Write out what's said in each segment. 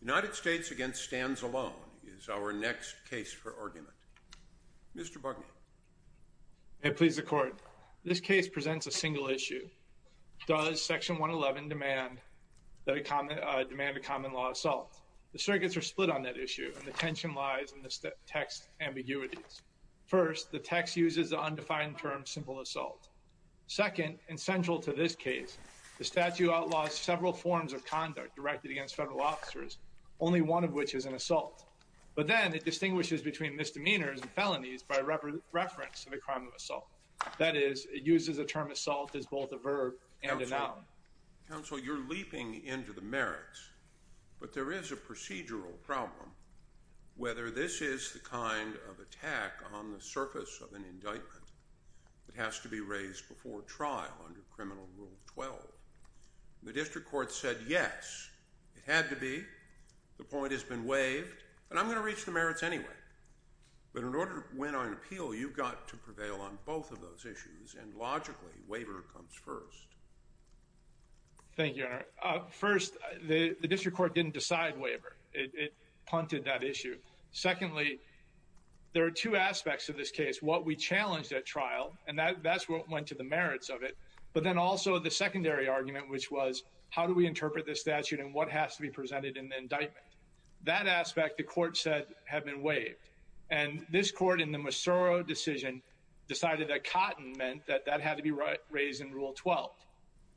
United States v. Stans Alone United States v. Stans Alone is our next case for argument. Mr. Bugney. May it please the Court. This case presents a single issue. Does Section 111 demand a common law assault? The circuits are split on that issue, and the tension lies in the text's ambiguities. First, the text uses the undefined term simple assault. Second, and central to this case, the statute outlaws several forms of conduct directed against federal officers, only one of which is an assault. But then it distinguishes between misdemeanors and felonies by reference to the crime of assault. That is, it uses the term assault as both a verb and a noun. Counsel, you're leaping into the merits, but there is a procedural problem. Whether this is the kind of attack on the surface of an indictment that has to be raised before trial under Criminal Rule 12. The district court said yes, it had to be, the point has been waived, and I'm going to reach the merits anyway. But in order to win on an appeal, you've got to prevail on both of those issues, and logically, waiver comes first. Thank you, Your Honor. First, the district court didn't decide waiver. It punted that issue. Secondly, there are two aspects of this case. What we challenged at trial, and that's what went to the merits of it, but then also the secondary argument, which was, how do we interpret this statute and what has to be presented in the indictment? That aspect, the court said, had been waived. And this court, in the Mossoro decision, decided that cotton meant that that had to be raised in Rule 12.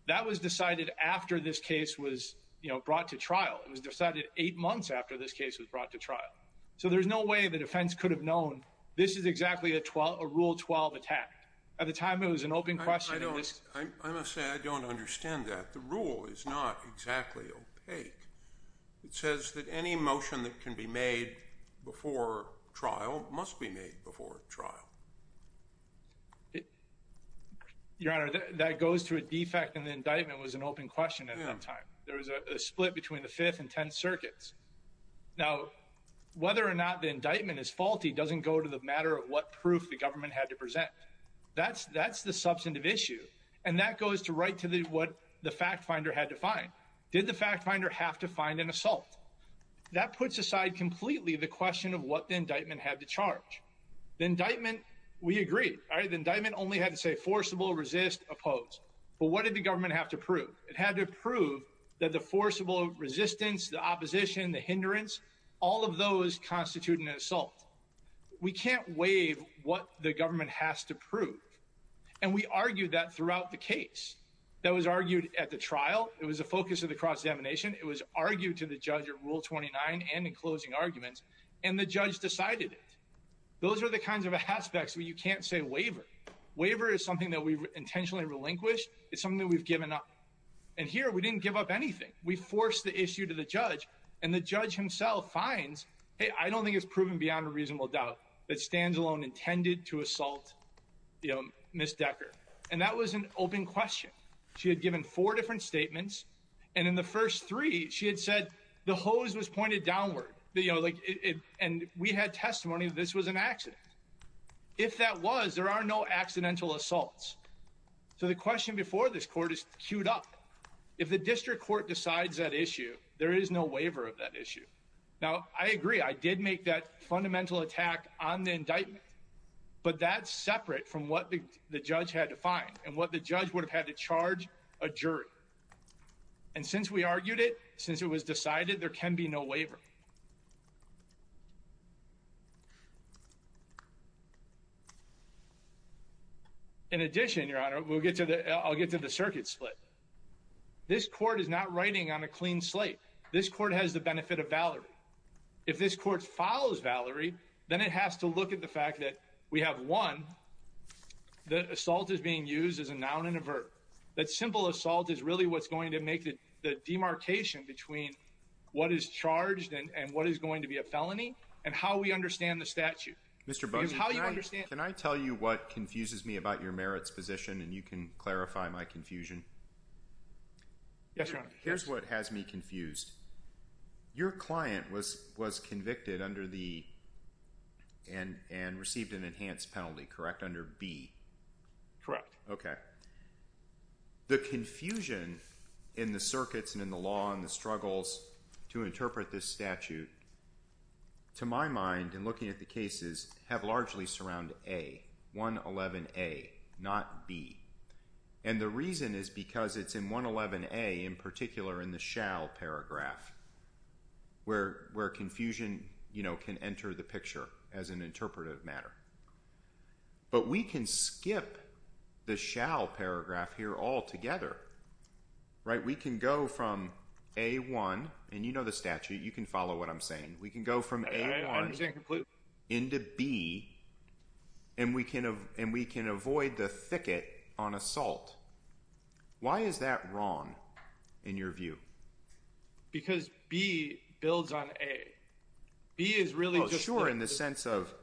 That was decided after this case was brought to trial. It was decided eight months after this case was brought to trial. So there's no way the defense could have known this is exactly a Rule 12 attack. At the time, it was an open question. I must say, I don't understand that. The rule is not exactly opaque. It says that any motion that can be made before trial must be made before trial. Your Honor, that goes to a defect, and the indictment was an open question at that time. There was a split between the Fifth and Tenth Circuits. Now, whether or not the indictment is faulty doesn't go to the matter of what proof the government had to present. That's the substantive issue, and that goes to right to what the fact finder had to find. Did the fact finder have to find an assault? That puts aside completely the question of what the indictment had to charge. The indictment, we agree. The indictment only had to say forcible, resist, oppose. But what did the government have to prove? It had to prove that the forcible resistance, the opposition, the hindrance, all of those constitute an assault. We can't waive what the government has to prove, and we argued that throughout the case. That was argued at the trial. It was the focus of the cross-examination. It was argued to the judge at Rule 29 and in closing arguments, and the judge decided it. Those are the kinds of aspects where you can't say waiver. Waiver is something that we've intentionally relinquished. It's something that we've given up. And here, we didn't give up anything. We forced the issue to the judge, and the judge himself finds, hey, I don't think it's proven beyond a reasonable doubt that Standalone intended to assault Ms. Decker. And that was an open question. She had given four different statements, and in the first three she had said the hose was pointed downward, and we had testimony that this was an accident. If that was, there are no accidental assaults. So the question before this court is queued up. If the district court decides that issue, there is no waiver of that issue. Now, I agree, I did make that fundamental attack on the indictment, but that's separate from what the judge had to find and what the judge would have had to charge a jury. And since we argued it, since it was decided, there can be no waiver. In addition, Your Honor, I'll get to the circuit split. This court is not writing on a clean slate. This court has the benefit of Valerie. If this court follows Valerie, then it has to look at the fact that we have, one, that assault is being used as a noun and a verb. That simple assault is really what's going to make the demarcation between what is charged and what is not charged. And what is going to be a felony and how we understand the statute. Mr. Bussing, can I tell you what confuses me about your merits position and you can clarify my confusion? Yes, Your Honor. Here's what has me confused. Your client was convicted under the and received an enhanced penalty, correct, under B? Correct. Okay. The confusion in the circuits and in the law and the struggles to interpret this statute, to my mind, in looking at the cases, have largely surrounded A, 111A, not B. And the reason is because it's in 111A, in particular in the shall paragraph, where confusion can enter the picture as an interpretive matter. But we can skip the shall paragraph here altogether, right? We can go from A1, and you know the statute, you can follow what I'm saying. We can go from A1 into B and we can avoid the thicket on assault. Why is that wrong in your view? Because B builds on A. Oh, sure, in the sense of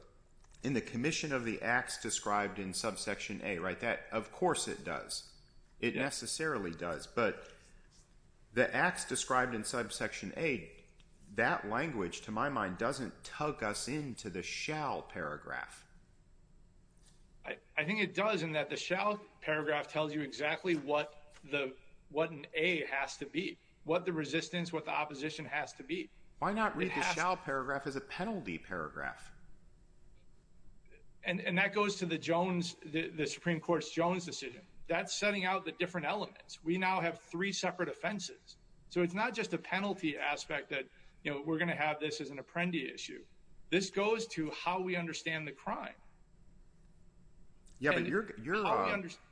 in the commission of the acts described in subsection A, right? Of course it does. It necessarily does. But the acts described in subsection A, that language, to my mind, doesn't tug us into the shall paragraph. I think it does in that the shall paragraph tells you exactly what an A has to be, what the resistance, what the opposition has to be. Why not read the shall paragraph as a penalty paragraph? And that goes to the Jones, the Supreme Court's Jones decision. That's setting out the different elements. We now have three separate offenses. So it's not just a penalty aspect that, you know, we're going to have this as an apprendee issue. This goes to how we understand the crime. Yeah, but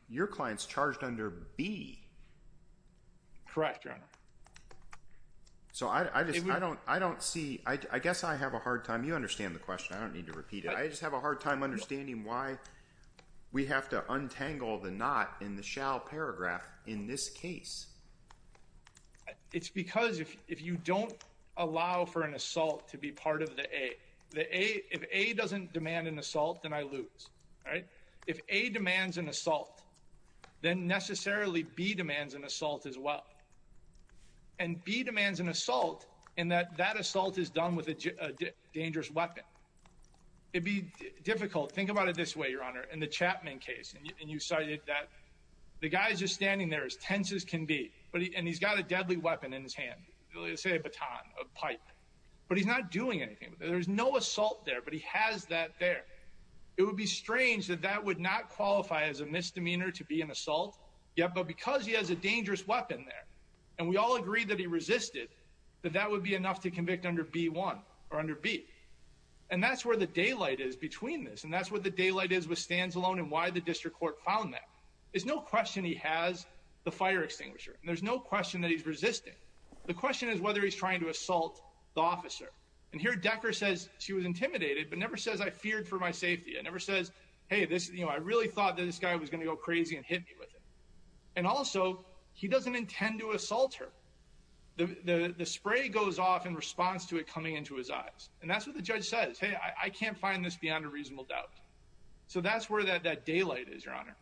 your client's charged under B. Correct, Your Honor. So I don't see, I guess I have a hard time. You understand the question. I don't need to repeat it. I just have a hard time understanding why we have to untangle the not in the shall paragraph in this case. It's because if you don't allow for an assault to be part of the A, if A doesn't demand an assault, then I lose, right? If A demands an assault, then necessarily B demands an assault as well. And B demands an assault in that that assault is done with a dangerous weapon. It'd be difficult. Think about it this way, Your Honor, in the Chapman case, and you cited that the guy's just standing there as tense as can be, and he's got a deadly weapon in his hand, let's say a baton, a pipe. But he's not doing anything. There's no assault there, but he has that there. It would be strange that that would not qualify as a misdemeanor to be an assault, but because he has a dangerous weapon there, and we all agree that he resisted, that that would be enough to convict under B1 or under B. And that's where the daylight is between this, and that's where the daylight is with Stansalone and why the district court found that. There's no question he has the fire extinguisher. There's no question that he's resisting. The question is whether he's trying to assault the officer. And here Decker says she was intimidated but never says I feared for my safety. It never says, hey, I really thought that this guy was going to go crazy and hit me with it. And also he doesn't intend to assault her. The spray goes off in response to it coming into his eyes. And that's what the judge says. Hey, I can't find this beyond a reasonable doubt. So that's where that daylight is, Your Honor.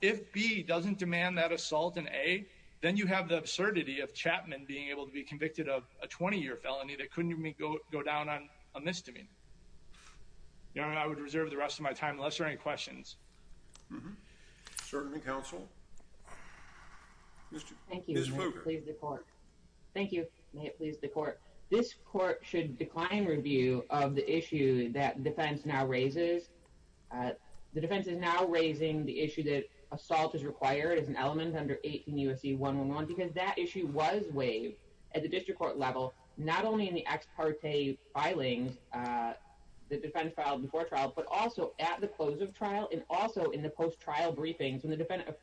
If B doesn't demand that assault in A, then you have the absurdity of Chapman being able to be convicted of a 20-year felony that couldn't even go down on misdemeanor. Your Honor, I would reserve the rest of my time unless there are any questions. Certainly, counsel. Thank you. Please, the court. Thank you. Please, the court. This court should decline review of the issue that defense now raises. The defense is now raising the issue that assault is required as an element under 18 U.S.C. 111 because that issue was waived at the district court level, not only in the ex parte filing, the defense filed before trial, but also at the close of trial and also in the post-trial briefings when the defendant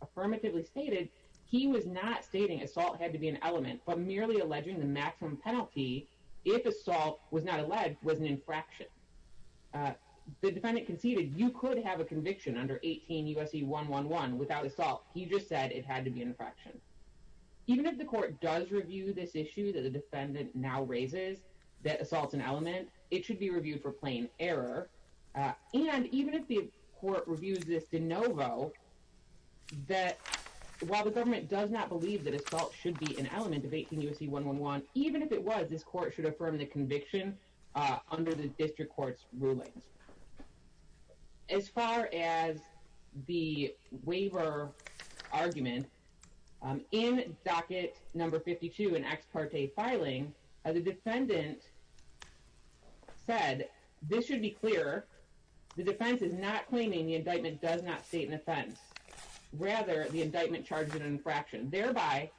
affirmatively stated he was not stating assault had to be an element, but merely alleging the maximum penalty, if assault was not alleged, was an infraction. The defendant conceded you could have a conviction under 18 U.S.C. 111 without assault. He just said it had to be an infraction. Even if the court does review this issue that the defendant now raises that assault is an element, it should be reviewed for plain error, and even if the court reviews this de novo that while the government does not believe that assault should be an element of 18 U.S.C. 111, even if it was, this court should affirm the conviction under the district court's rulings. As far as the waiver argument, in docket number 52 in ex parte filing, the defendant said this should be clear. The defense is not claiming the indictment does not state an offense. Rather, the indictment charges an infraction. Thereby,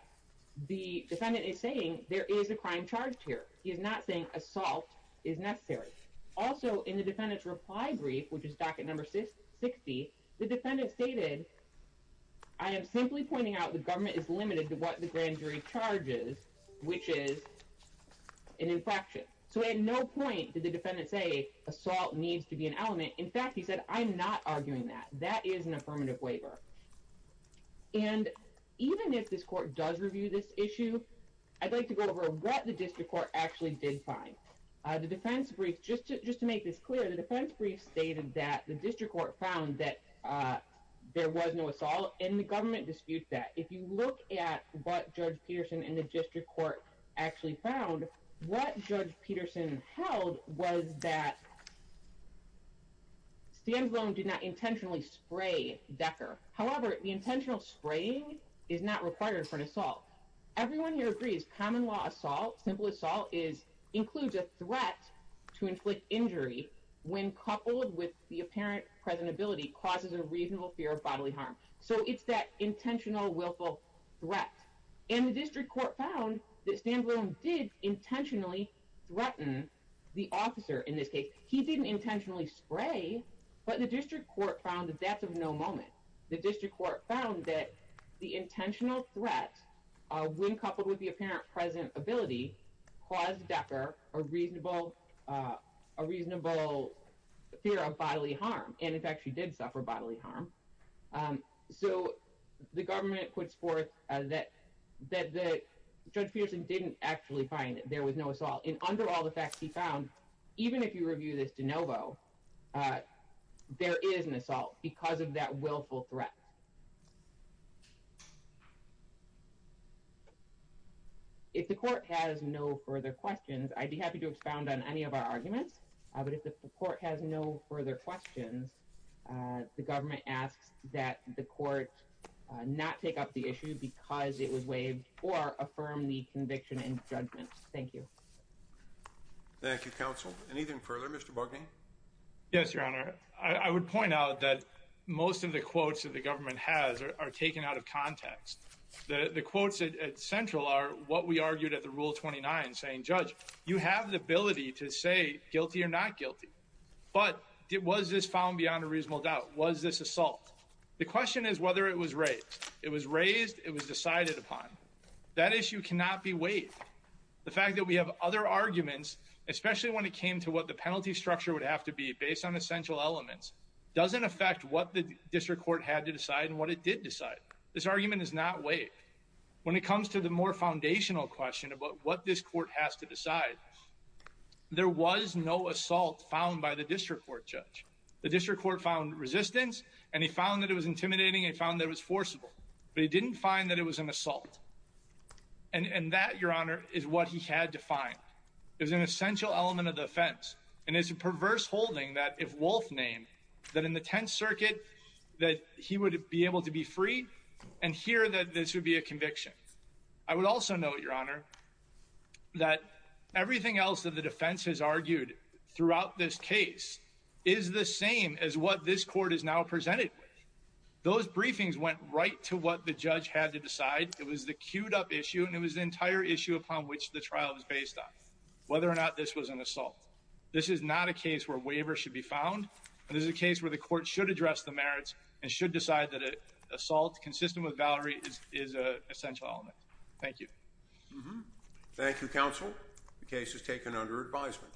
the defendant is saying there is a crime charged here. He is not saying assault is necessary. Also, in the defendant's reply brief, which is docket number 60, the defendant stated, I am simply pointing out the government is limited to what the grand jury charges, which is an infraction. So at no point did the defendant say assault needs to be an element. In fact, he said, I'm not arguing that. That is an affirmative waiver. And even if this court does review this issue, I'd like to go over what the district court actually did find. The defense brief, just to make this clear, the defense brief stated that the district court found that there was no assault, and the government disputed that. If you look at what Judge Peterson and the district court actually found, what Judge Peterson held was that Standalone did not intentionally spray Decker. However, the intentional spraying is not required for an assault. Everyone here agrees common law assault, simple assault, includes a threat to inflict injury when coupled with the apparent present ability, causes a reasonable fear of bodily harm. So it's that intentional willful threat. And the district court found that Standalone did intentionally threaten the officer in this case. He didn't intentionally spray, but the district court found that that's of no moment. The district court found that the intentional threat, when coupled with the apparent present ability, caused Decker a reasonable fear of bodily harm, and in fact she did suffer bodily harm. So the government puts forth that Judge Peterson didn't actually find that there was no assault. And under all the facts he found, even if you review this de novo, there is an assault because of that willful threat. If the court has no further questions, I'd be happy to expound on any of our arguments. But if the court has no further questions, the government asks that the court not take up the issue because it was waived, or affirm the conviction and judgment. Thank you. Thank you, Counsel. Anything further? Mr. Bugney? Yes, Your Honor. I would point out that most of the quotes that the government has are taken out of context. The quotes at Central are what we argued at the Rule 29 saying, Judge, you have the ability to say guilty or not guilty. But was this found beyond a reasonable doubt? Was this assault? The question is whether it was raised. It was raised. It was decided upon. That issue cannot be waived. The fact that we have other arguments, especially when it came to what the penalty structure would have to be based on essential elements, doesn't affect what the district court had to decide and what it did decide. This argument is not waived. When it comes to the more foundational question about what this court has to decide, there was no assault found by the district court judge. The district court found resistance, and he found that it was intimidating, and he found that it was forcible. But he didn't find that it was an assault. And that, Your Honor, is what he had to find. It was an essential element of the offense. And it's a perverse holding that if Wolfe named, that in the Tenth Circuit, that he would be able to be free and hear that this would be a conviction. I would also note, Your Honor, that everything else that the defense has argued throughout this case is the same as what this court is now presented with. Those briefings went right to what the judge had to decide. It was the cued-up issue, and it was the entire issue upon which the trial was based on, whether or not this was an assault. This is not a case where waivers should be found. This is a case where the court should address the merits and should decide that an assault consistent with Valerie is an essential element. Thank you. Thank you, counsel. The case is taken under advisement.